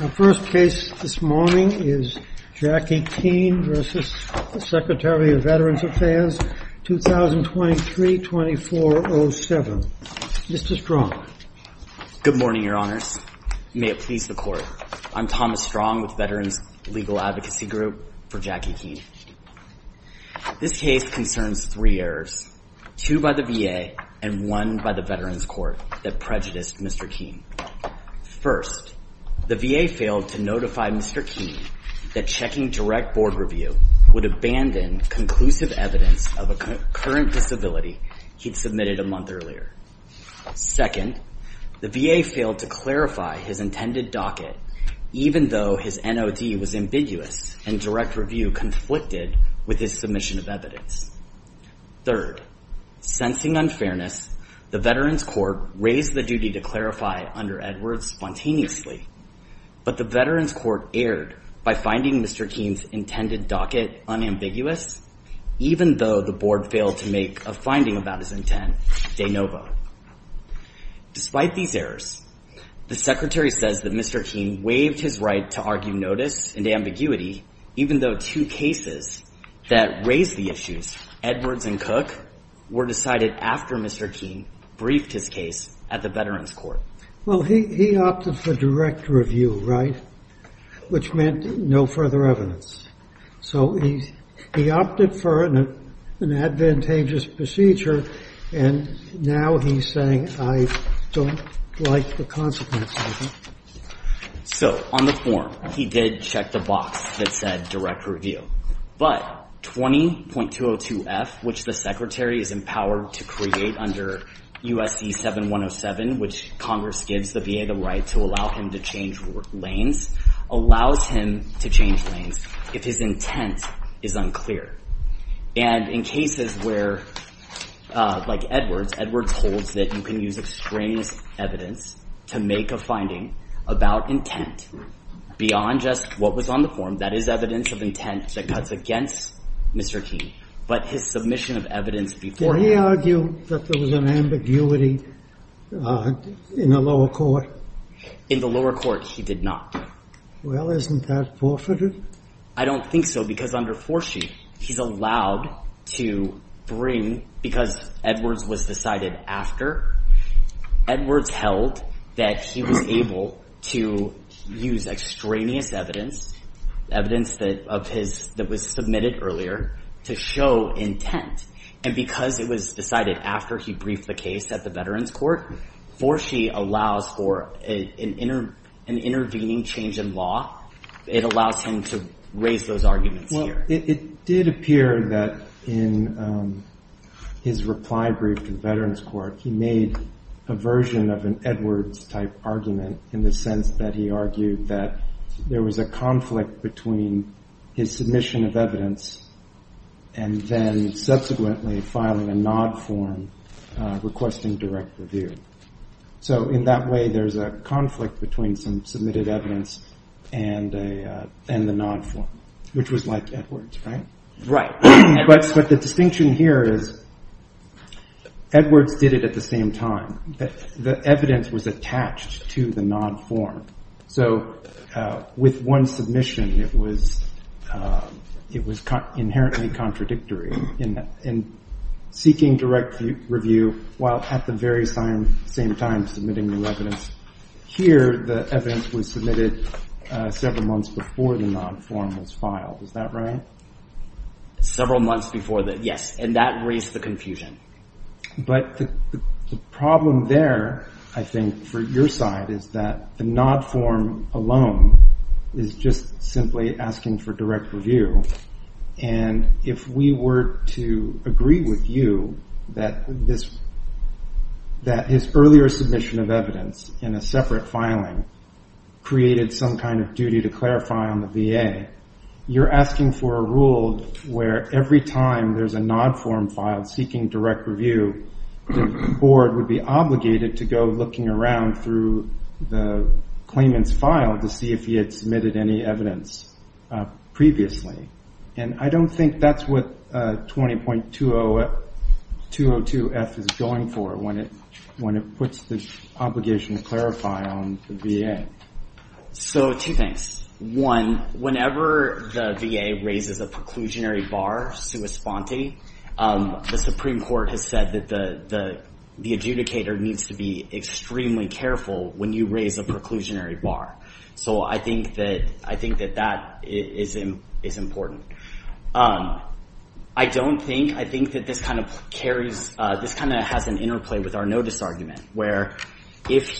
Our first case this morning is Jackie Keene v. Secretary of Veterans Affairs, 2023-2407. Mr. Strong. Good morning, Your Honors. May it please the Court, I'm Thomas Strong with Veterans Legal Advocacy Group for Jackie Keene. This case concerns three errors, two by the VA and one by the Veterans Court that prejudiced Mr. Keene. First, the VA failed to notify Mr. Keene that checking direct board review would abandon conclusive evidence of a current disability he'd submitted a month earlier. Second, the VA failed to clarify his intended docket, even though his NOD was ambiguous and direct review conflicted with his submission of evidence. Third, sensing unfairness, the Veterans Court raised the duty to clarify under Edwards spontaneously, but the Veterans Court erred by finding Mr. Keene's intended docket unambiguous, even though the board failed to make a finding about his intent de novo. Despite these errors, the Secretary says that Mr. Keene waived his right to argue notice ambiguity, even though two cases that raised the issues, Edwards and Cook, were decided after Mr. Keene briefed his case at the Veterans Court. Well, he opted for direct review, right? Which meant no further evidence. So he opted for an advantageous procedure, and now he's saying, I don't like the consequences. So, on the form, he did check the box that said direct review. But 20.202F, which the Secretary is empowered to create under USC 7107, which Congress gives the VA the right to allow him to change lanes, allows him to change lanes if his intent is unclear. And in cases where, like Edwards, Edwards holds that you can use extraneous evidence to make a finding about intent beyond just what was on the form, that is evidence of intent that cuts against Mr. Keene, but his submission of evidence before him. Did he argue that there was an ambiguity in the lower court? In the lower court, he did not. Well, isn't that forfeited? I don't think so, because under 4C, he's allowed to bring, because Edwards was decided after, Edwards held that he was able to use extraneous evidence, evidence that was submitted earlier, to show intent. And because it was decided after he briefed the case at the Veterans Court, 4C allows for an intervening change in law. It allows him to raise those arguments here. It did appear that in his reply brief to the Veterans Court, he made a version of an Edwards-type argument in the sense that he argued that there was a conflict between his submission of evidence and then subsequently filing a NOD form requesting direct review. So in that way, there's a conflict between some submitted evidence and the NOD form, which was like Edwards, right? But the distinction here is Edwards did it at the same time. The evidence was attached to the NOD form. So with one submission, it was inherently contradictory in seeking direct review while at the very same time submitting new evidence. Here, the evidence was submitted several months before the NOD form was filed. Is that right? Several months before the, yes. And that raised the confusion. But the problem there, I think, for your side is that the NOD form alone is just simply asking for direct review. And if we were to agree with you that this, that his earlier submission of evidence in a separate filing created some kind of duty to clarify on the VA, you're asking for a rule where every time there's a NOD form filed seeking direct review, the board would be obligated to go looking around through the claimant's file to see if he had submitted any evidence previously. And I don't think that's what 20.202F is going for when it puts the obligation to clarify on the VA. So two things. One, whenever the VA raises a preclusionary bar, sui sponte, the Supreme Court has said that the adjudicator needs to be extremely careful when you raise a preclusionary bar. So I think that that is important. I don't think, I think that this kind of carries, this kind of has an interplay with our If the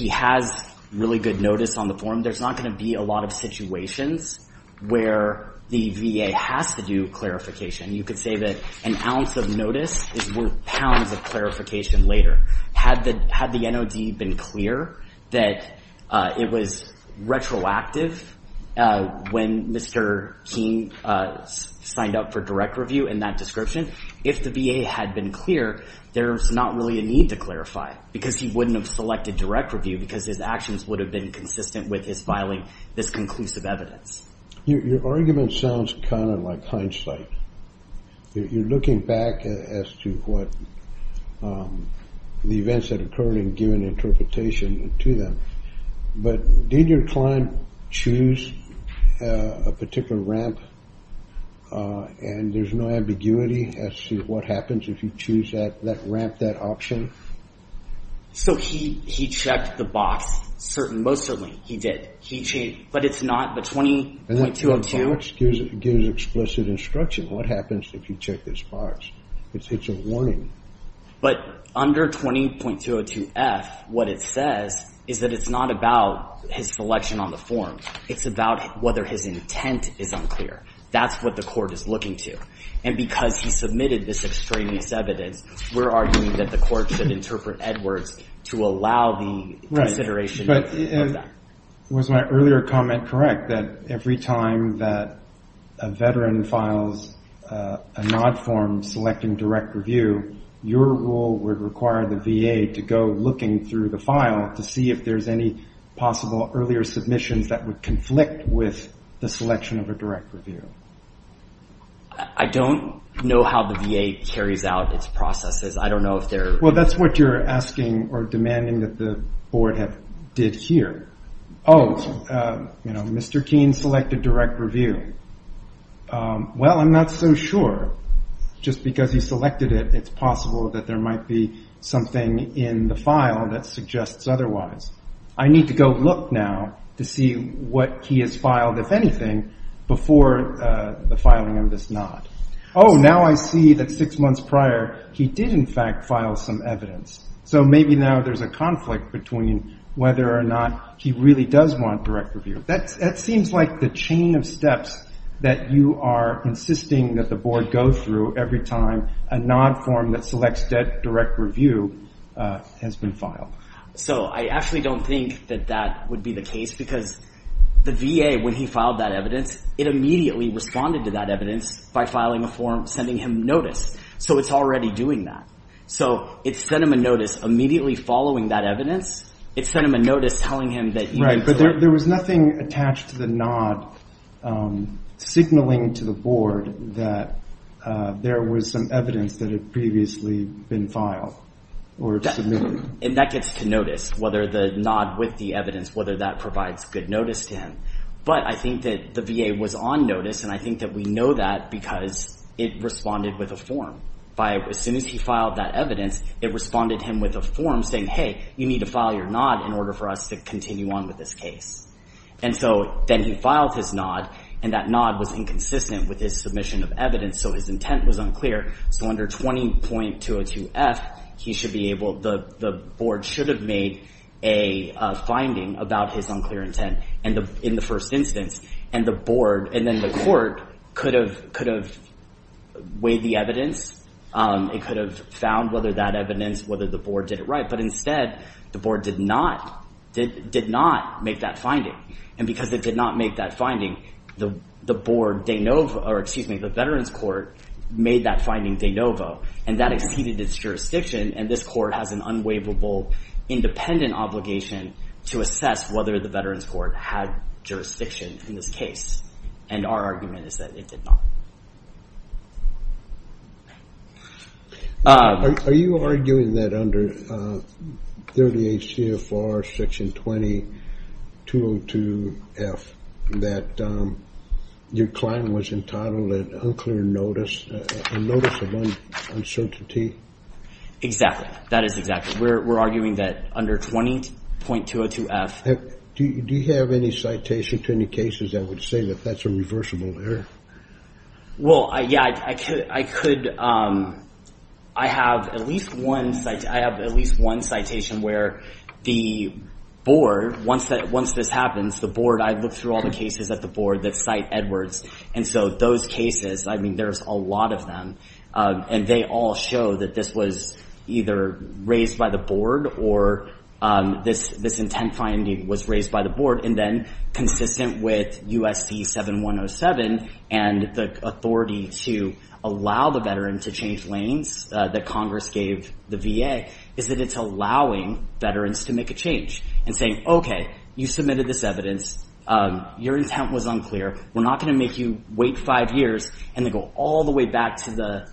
NOD has really good notice on the form, there's not going to be a lot of situations where the VA has to do clarification. You could say that an ounce of notice is worth pounds of clarification later. Had the NOD been clear that it was retroactive when Mr. King signed up for direct review in that description, if the VA had been clear, there's not really a need to clarify because he wouldn't have selected direct review because his actions would have been consistent with his filing this conclusive evidence. Your argument sounds kind of like hindsight. You're looking back as to what the events that occurred and given interpretation to them. But did your client choose a particular ramp and there's no ambiguity as to what happens if you choose that ramp, that option? So he checked the box. Most certainly he did. But it's not the 20.202. And the box gives explicit instruction. What happens if you check this box? It's a warning. But under 20.202F, what it says is that it's not about his selection on the form. It's about whether his intent is unclear. That's what the court is looking to. And because he submitted this extraneous evidence, we're arguing that the court should interpret Edwards to allow the consideration of that. Was my earlier comment correct that every time that a veteran files a NOD form selecting direct review, your rule would require the VA to go looking through the file to see if there's any possible earlier submissions that would conflict with the selection of a direct review? I don't know how the VA carries out its processes. I don't know if they're – Well, that's what you're asking or demanding that the board have did here. Oh, you know, Mr. Keene selected direct review. Well, I'm not so sure. Just because he selected it, it's possible that there might be something in the file that suggests otherwise. I need to go look now to see what he has filed, if anything, before the filing of this NOD. Oh, now I see that six months prior, he did, in fact, file some evidence. So maybe now there's a conflict between whether or not he really does want direct review. That seems like the chain of steps that you are insisting that the board go through every time a NOD form that selects direct review has been filed. So I actually don't think that that would be the case because the VA, when he filed that evidence, it immediately responded to that evidence by filing a form sending him notice. So it's already doing that. So it sent him a notice immediately following that evidence. It sent him a notice telling him that he would do it. Right, but there was nothing attached to the NOD signaling to the board that there was some evidence that had previously been filed or submitted. And that gets to notice, whether the NOD with the evidence, whether that provides good notice to him. But I think that the VA was on notice, and I think that we know that because it responded with a form. As soon as he filed that evidence, it responded to him with a form saying, hey, you need to file your NOD in order for us to continue on with this case. And so then he filed his NOD, and that NOD was inconsistent with his submission of evidence. So his intent was unclear. So under 20.202F, the board should have made a finding about his unclear intent in the first instance. And then the court could have weighed the evidence. It could have found whether that evidence, whether the board did it right. But instead, the board did not make that finding. And because it did not make that finding, the board de novo, or excuse me, the Veterans Court made that finding de novo. And that exceeded its jurisdiction. And this court has an unwaivable independent obligation to assess whether the Veterans Court had jurisdiction in this case. And our argument is that it did not. Are you arguing that under 38 CFR Section 20.202F that your client was entitled to unclear notice, a notice of uncertainty? Exactly. That is exactly. We're arguing that under 20.202F. Do you have any citation to any cases that would say that that's a reversible error? Well, yeah, I could. I have at least one citation where the board, once this happens, the board, I look through all the cases at the board that cite Edwards. And so those cases, I mean, there's a lot of them. And they all show that this was either raised by the board or this intent finding was raised by the board. And then consistent with USC 7107 and the authority to allow the veteran to change lanes that Congress gave the VA, is that it's allowing veterans to make a change and saying, OK, you submitted this evidence. Your intent was unclear. We're not going to make you wait five years and then go all the way back to the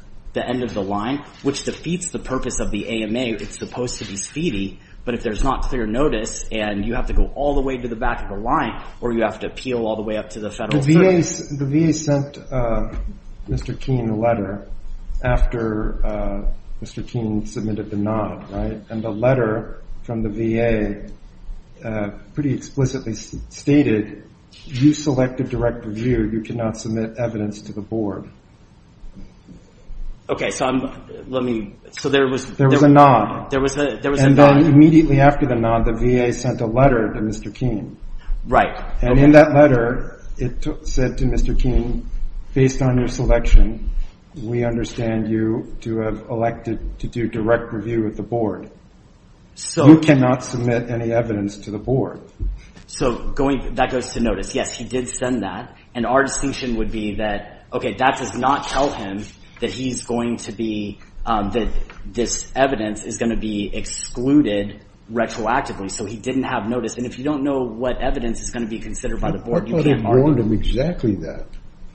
end of the line, which defeats the purpose of the AMA. It's supposed to be speedy, but if there's not clear notice and you have to go all the way to the back of the line or you have to appeal all the way up to the federal service. The VA sent Mr. Keene a letter after Mr. Keene submitted the nod, right? And the letter from the VA pretty explicitly stated, you selected direct review. You cannot submit evidence to the board. OK, so there was a nod. And then immediately after the nod, the VA sent a letter to Mr. Keene. And in that letter, it said to Mr. Keene, based on your selection, we understand you to have elected to do direct review with the board. You cannot submit any evidence to the board. So that goes to notice. Yes, he did send that. And our distinction would be that, OK, that does not tell him that this evidence is going to be excluded retroactively. So he didn't have notice. And if you don't know what evidence is going to be considered by the board, you can't bargain. I thought it warned him exactly that.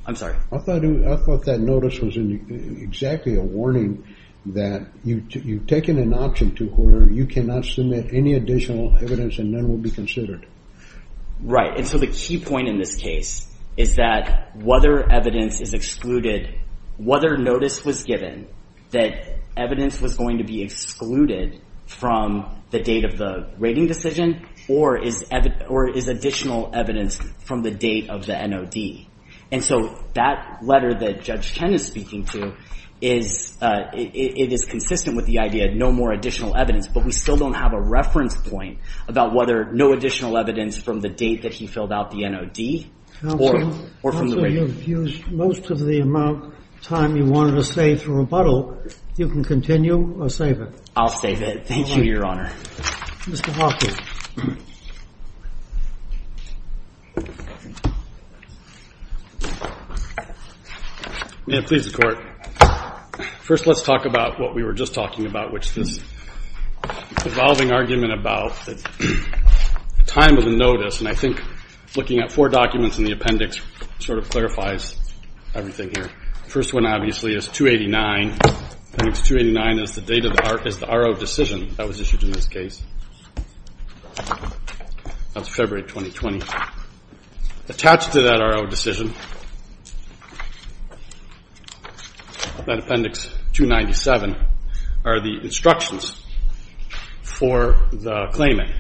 I'm sorry? I thought that notice was exactly a warning that you've taken an option to where you cannot submit any additional evidence and none will be considered. Right, and so the key point in this case is that whether evidence is excluded, whether notice was given, that evidence was going to be excluded from the date of the rating decision or is additional evidence from the date of the nod. And so that letter that Judge Chen is speaking to is it is consistent with the idea of no more additional evidence, but we still don't have a reference point about whether no additional evidence from the date that he filled out the NOD or from the rating. Counsel, you've used most of the amount of time you wanted to save for rebuttal. You can continue or save it. I'll save it. Thank you, Your Honor. Mr. Hawkins. May it please the Court. First, let's talk about what we were just talking about, which is this evolving argument about the time of the notice. And I think looking at four documents in the appendix sort of clarifies everything here. The first one, obviously, is 289. Appendix 289 is the date of the RO decision that was issued in this case. That's February 2020. Attached to that RO decision, that appendix 297, are the instructions for the claimant,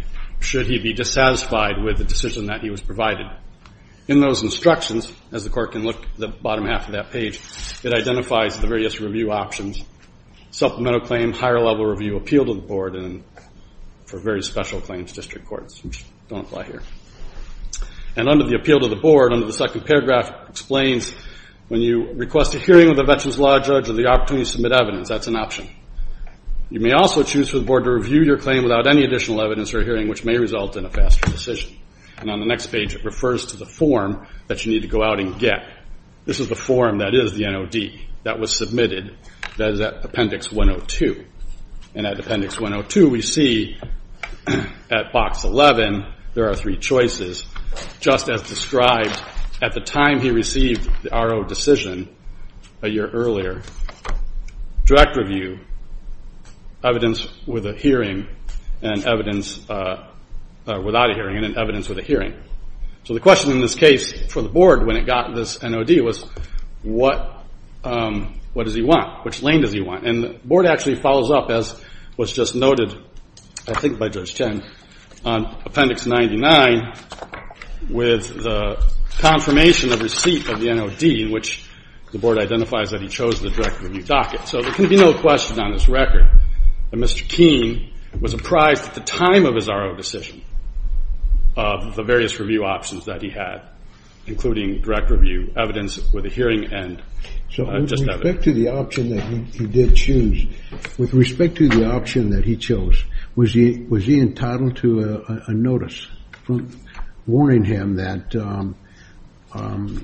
should he be dissatisfied with the decision that he was provided. In those instructions, as the Court can look at the bottom half of that page, it identifies the various review options, supplemental claim, higher-level review, appeal to the Board, and for various special claims, district courts, which don't apply here. And under the appeal to the Board, under the second paragraph, it explains when you request a hearing with a veterans law judge or the opportunity to submit evidence, that's an option. You may also choose for the Board to review your claim without any additional evidence or a hearing, which may result in a faster decision. And on the next page, it refers to the form that you need to go out and get. This is the form that is the NOD that was submitted. That is at Appendix 102. And at Appendix 102, we see at Box 11, there are three choices. Just as described, at the time he received the RO decision, a year earlier, direct review, evidence with a hearing, and evidence without a hearing, and evidence with a hearing. So the question in this case for the Board when it got this NOD was, what does he want? Which lane does he want? And the Board actually follows up as was just noted, I think by Judge Chen, on Appendix 99 with the confirmation of receipt of the NOD, in which the Board identifies that he chose the direct review docket. So there can be no question on this record that Mr. Keene was apprised at the time of his RO decision of the various review options that he had, including direct review, evidence with a hearing, and just evidence. So with respect to the option that he did choose, with respect to the option that he chose, was he entitled to a notice warning him that on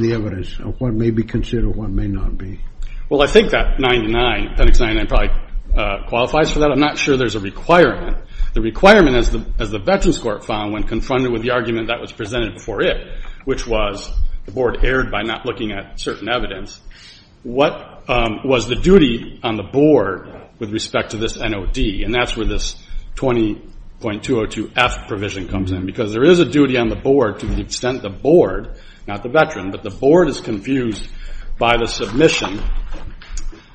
the evidence of what may be considered, what may not be? Well, I think that 99, Appendix 99 probably qualifies for that. I'm not sure there's a requirement. The requirement, as the Veterans Court found when confronted with the argument that was presented before it, which was the Board erred by not looking at certain evidence, what was the duty on the Board with respect to this NOD? And that's where this 20.202F provision comes in, because there is a duty on the Board to the extent the Board, not the Veteran, but the Board is confused by the submission.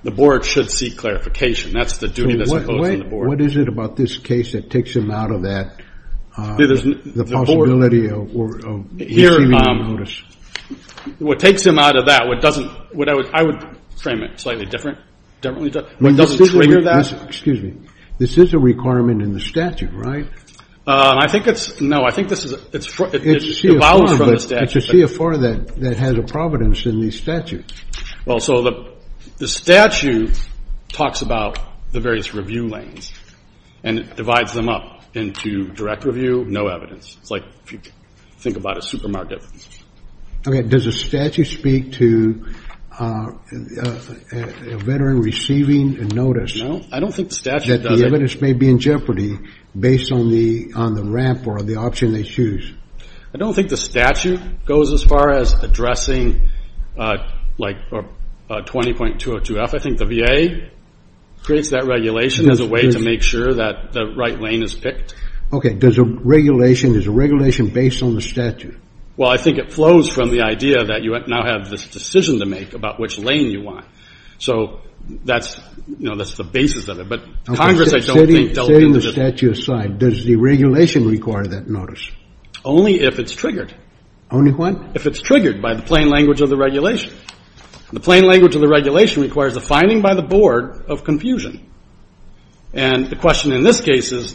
The Board should seek clarification. That's the duty that's imposed on the Board. What is it about this case that takes him out of that, the possibility of receiving a notice? What takes him out of that, what doesn't, I would frame it slightly differently, what doesn't trigger that? Excuse me. This is a requirement in the statute, right? I think it's, no, I think this is, it follows from the statute. It's a CFR that has a providence in the statute. Well, so the statute talks about the various review lanes, and it divides them up into direct review, no evidence. It's like if you think about a supermarket. Okay, does the statute speak to a Veteran receiving a notice? No, I don't think the statute does it. That the evidence may be in jeopardy based on the ramp or the option they choose. I don't think the statute goes as far as addressing, like, 20.202F. I think the VA creates that regulation as a way to make sure that the right lane is picked. Okay. Does a regulation, is a regulation based on the statute? Well, I think it flows from the idea that you now have this decision to make about which lane you want. So that's, you know, that's the basis of it. But Congress, I don't think, dealt with it. Setting the statute aside, does the regulation require that notice? Only if it's triggered. Only what? If it's triggered by the plain language of the regulation. The plain language of the regulation requires a finding by the board of confusion. And the question in this case is,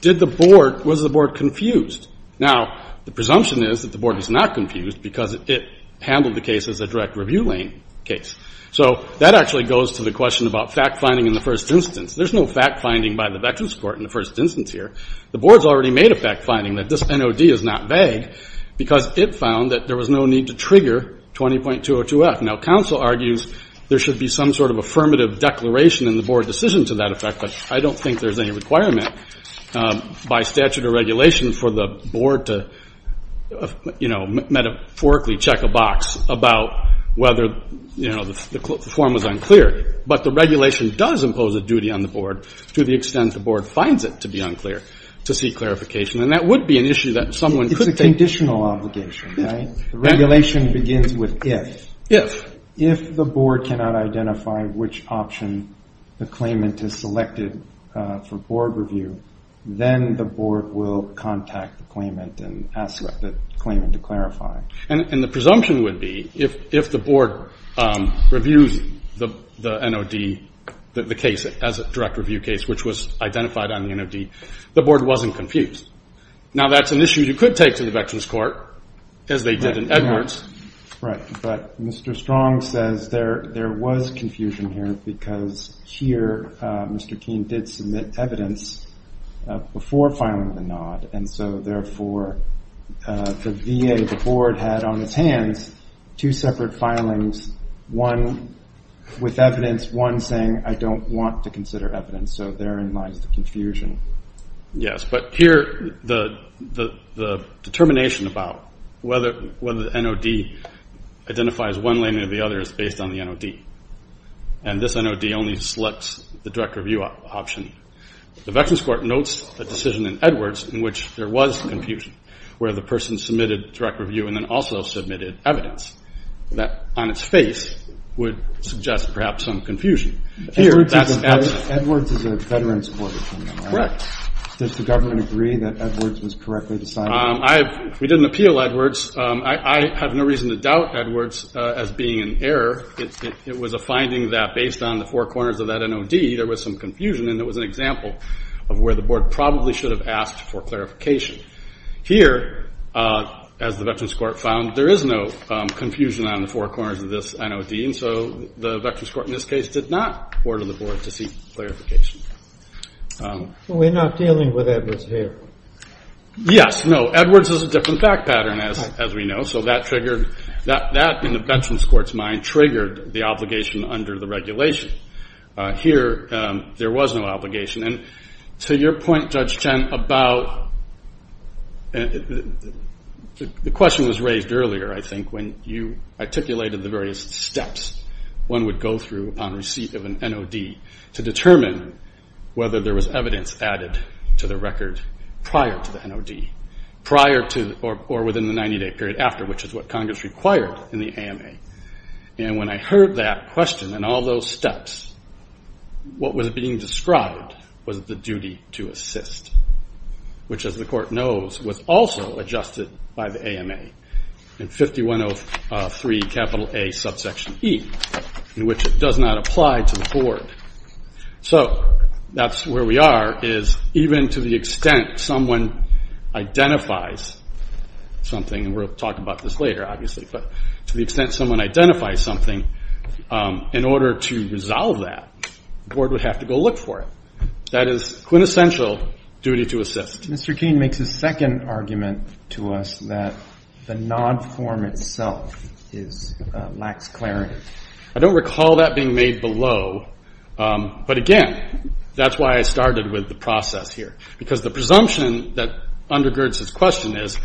did the board, was the board confused? Now, the presumption is that the board is not confused because it handled the case as a direct review lane case. So that actually goes to the question about fact-finding in the first instance. There's no fact-finding by the Veterans Court in the first instance here. The board's already made a fact-finding that this NOD is not vague because it found that there was no need to trigger 20.202F. Now, counsel argues there should be some sort of affirmative declaration in the board decision to that effect. But I don't think there's any requirement by statute or regulation for the board to, you know, metaphorically check a box about whether, you know, the form was unclear. But the regulation does impose a duty on the board to the extent the board finds it to be unclear to seek clarification. And that would be an issue that someone could take. It's a conditional obligation, right? The regulation begins with if. If. If the board cannot identify which option the claimant has selected for board review, then the board will contact the claimant and ask the claimant to clarify. And the presumption would be if the board reviews the NOD, the case as a direct review case, which was identified on the NOD, the board wasn't confused. Now, that's an issue you could take to the Veterans Court, as they did in Edwards. Right. But Mr. Strong says there was confusion here because here Mr. Keene did submit evidence before filing the NOD. And so, therefore, the VA, the board had on its hands two separate filings, one with evidence, one saying I don't want to consider evidence. So therein lies the confusion. Yes, but here the determination about whether the NOD identifies one lane or the other is based on the NOD. And this NOD only selects the direct review option. The Veterans Court notes a decision in Edwards in which there was confusion, where the person submitted direct review and then also submitted evidence. That on its face would suggest perhaps some confusion. Edwards is a Veterans Court. Correct. Does the government agree that Edwards was correctly decided? We didn't appeal Edwards. I have no reason to doubt Edwards as being an error. It was a finding that based on the four corners of that NOD, there was some confusion, and it was an example of where the board probably should have asked for clarification. Here, as the Veterans Court found, there is no confusion on the four corners of this NOD. And so the Veterans Court in this case did not order the board to seek clarification. So we're not dealing with Edwards here? Yes. No, Edwards is a different fact pattern, as we know, so that in the Veterans Court's mind triggered the obligation under the regulation. Here, there was no obligation. And to your point, Judge Chen, about the question was raised earlier, I think, when you articulated the various steps one would go through upon receipt of an NOD to determine whether there was evidence added to the record prior to the NOD, prior to or within the 90-day period after, which is what Congress required in the AMA. And when I heard that question and all those steps, what was being described was the duty to assist, which, as the court knows, was also adjusted by the AMA in 5103 A subsection E, in which it does not apply to the board. So that's where we are, is even to the extent someone identifies something, and we'll talk about this later, obviously, but to the extent someone identifies something, in order to resolve that, the board would have to go look for it. That is quintessential duty to assist. Mr. King makes a second argument to us that the NOD form itself lacks clarity. I don't recall that being made below, but, again, that's why I started with the process here, because the presumption that undergirds this question is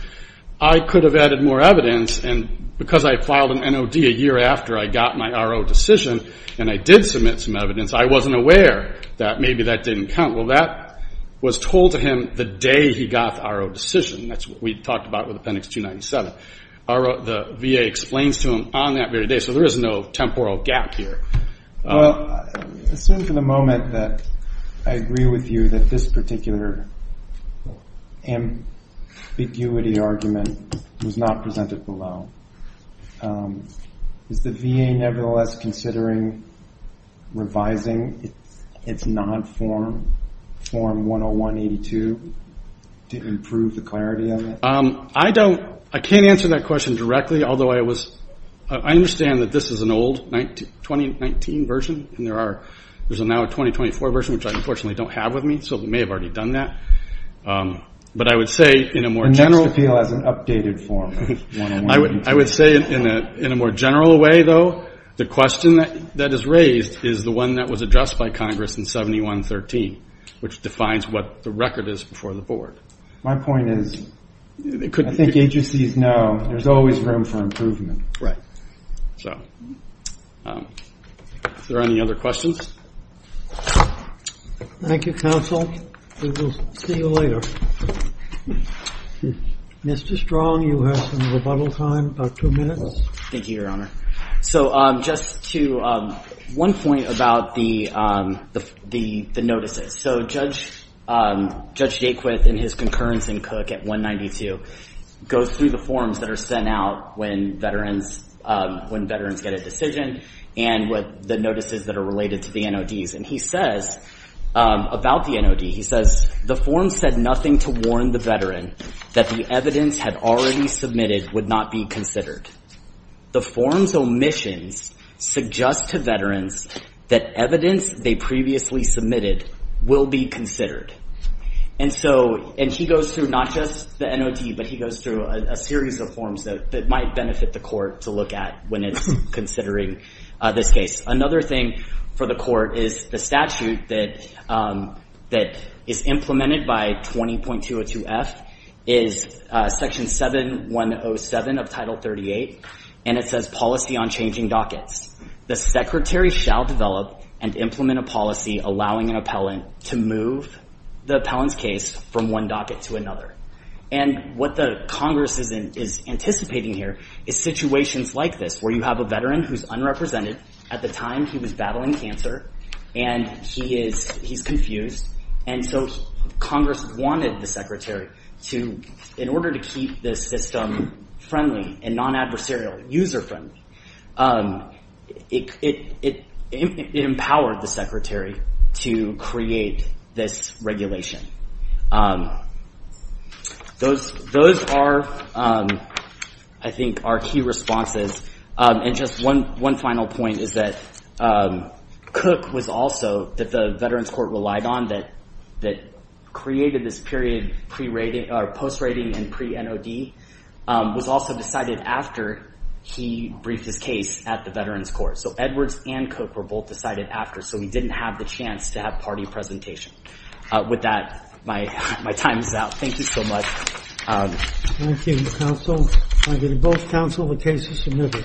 I could have added more evidence, and because I filed an NOD a year after I got my RO decision and I did submit some evidence, I wasn't aware that maybe that didn't count. Well, that was told to him the day he got the RO decision. That's what we talked about with Appendix 297. The VA explains to him on that very day, so there is no temporal gap here. I assume for the moment that I agree with you that this particular ambiguity argument was not presented below. Is the VA nevertheless considering revising its non-form, Form 101-82, to improve the clarity of it? I can't answer that question directly, although I understand that this is an old 2019 version, and there is now a 2024 version, which I unfortunately don't have with me, so it may have already done that. But I would say in a more general way, though, the question that is raised is the one that was addressed by Congress in 7113, which defines what the record is before the Board. My point is I think agencies know there's always room for improvement. Right. Are there any other questions? Thank you, Counsel. We will see you later. Mr. Strong, you have some rebuttal time, about two minutes. Thank you, Your Honor. So just to one point about the notices. So Judge Jaquith and his concurrence in Cook at 192 go through the forms that are sent out when veterans get a decision, and the notices that are related to the NODs. And he says about the NOD, he says, the form said nothing to warn the veteran that the evidence had already submitted would not be considered. The form's omissions suggest to veterans that evidence they previously submitted will be considered. And so he goes through not just the NOD, but he goes through a series of forms that might benefit the court to look at when it's considering this case. Another thing for the court is the statute that is implemented by 20.202F is Section 7107 of Title 38, and it says policy on changing dockets. The secretary shall develop and implement a policy allowing an appellant to move the appellant's case from one docket to another. And what the Congress is anticipating here is situations like this where you have a veteran who's unrepresented. At the time, he was battling cancer, and he's confused. And so Congress wanted the secretary to, in order to keep the system friendly and non-adversarial, user-friendly, it empowered the secretary to create this regulation. Those are, I think, our key responses. And just one final point is that Cook was also, that the Veterans Court relied on, that created this period post-rating and pre-NOD, was also decided after he briefed his case at the Veterans Court. So Edwards and Cook were both decided after, so he didn't have the chance to have party presentation. With that, my time is out. Thank you so much. Thank you, counsel. I give you both counsel, the case is submitted.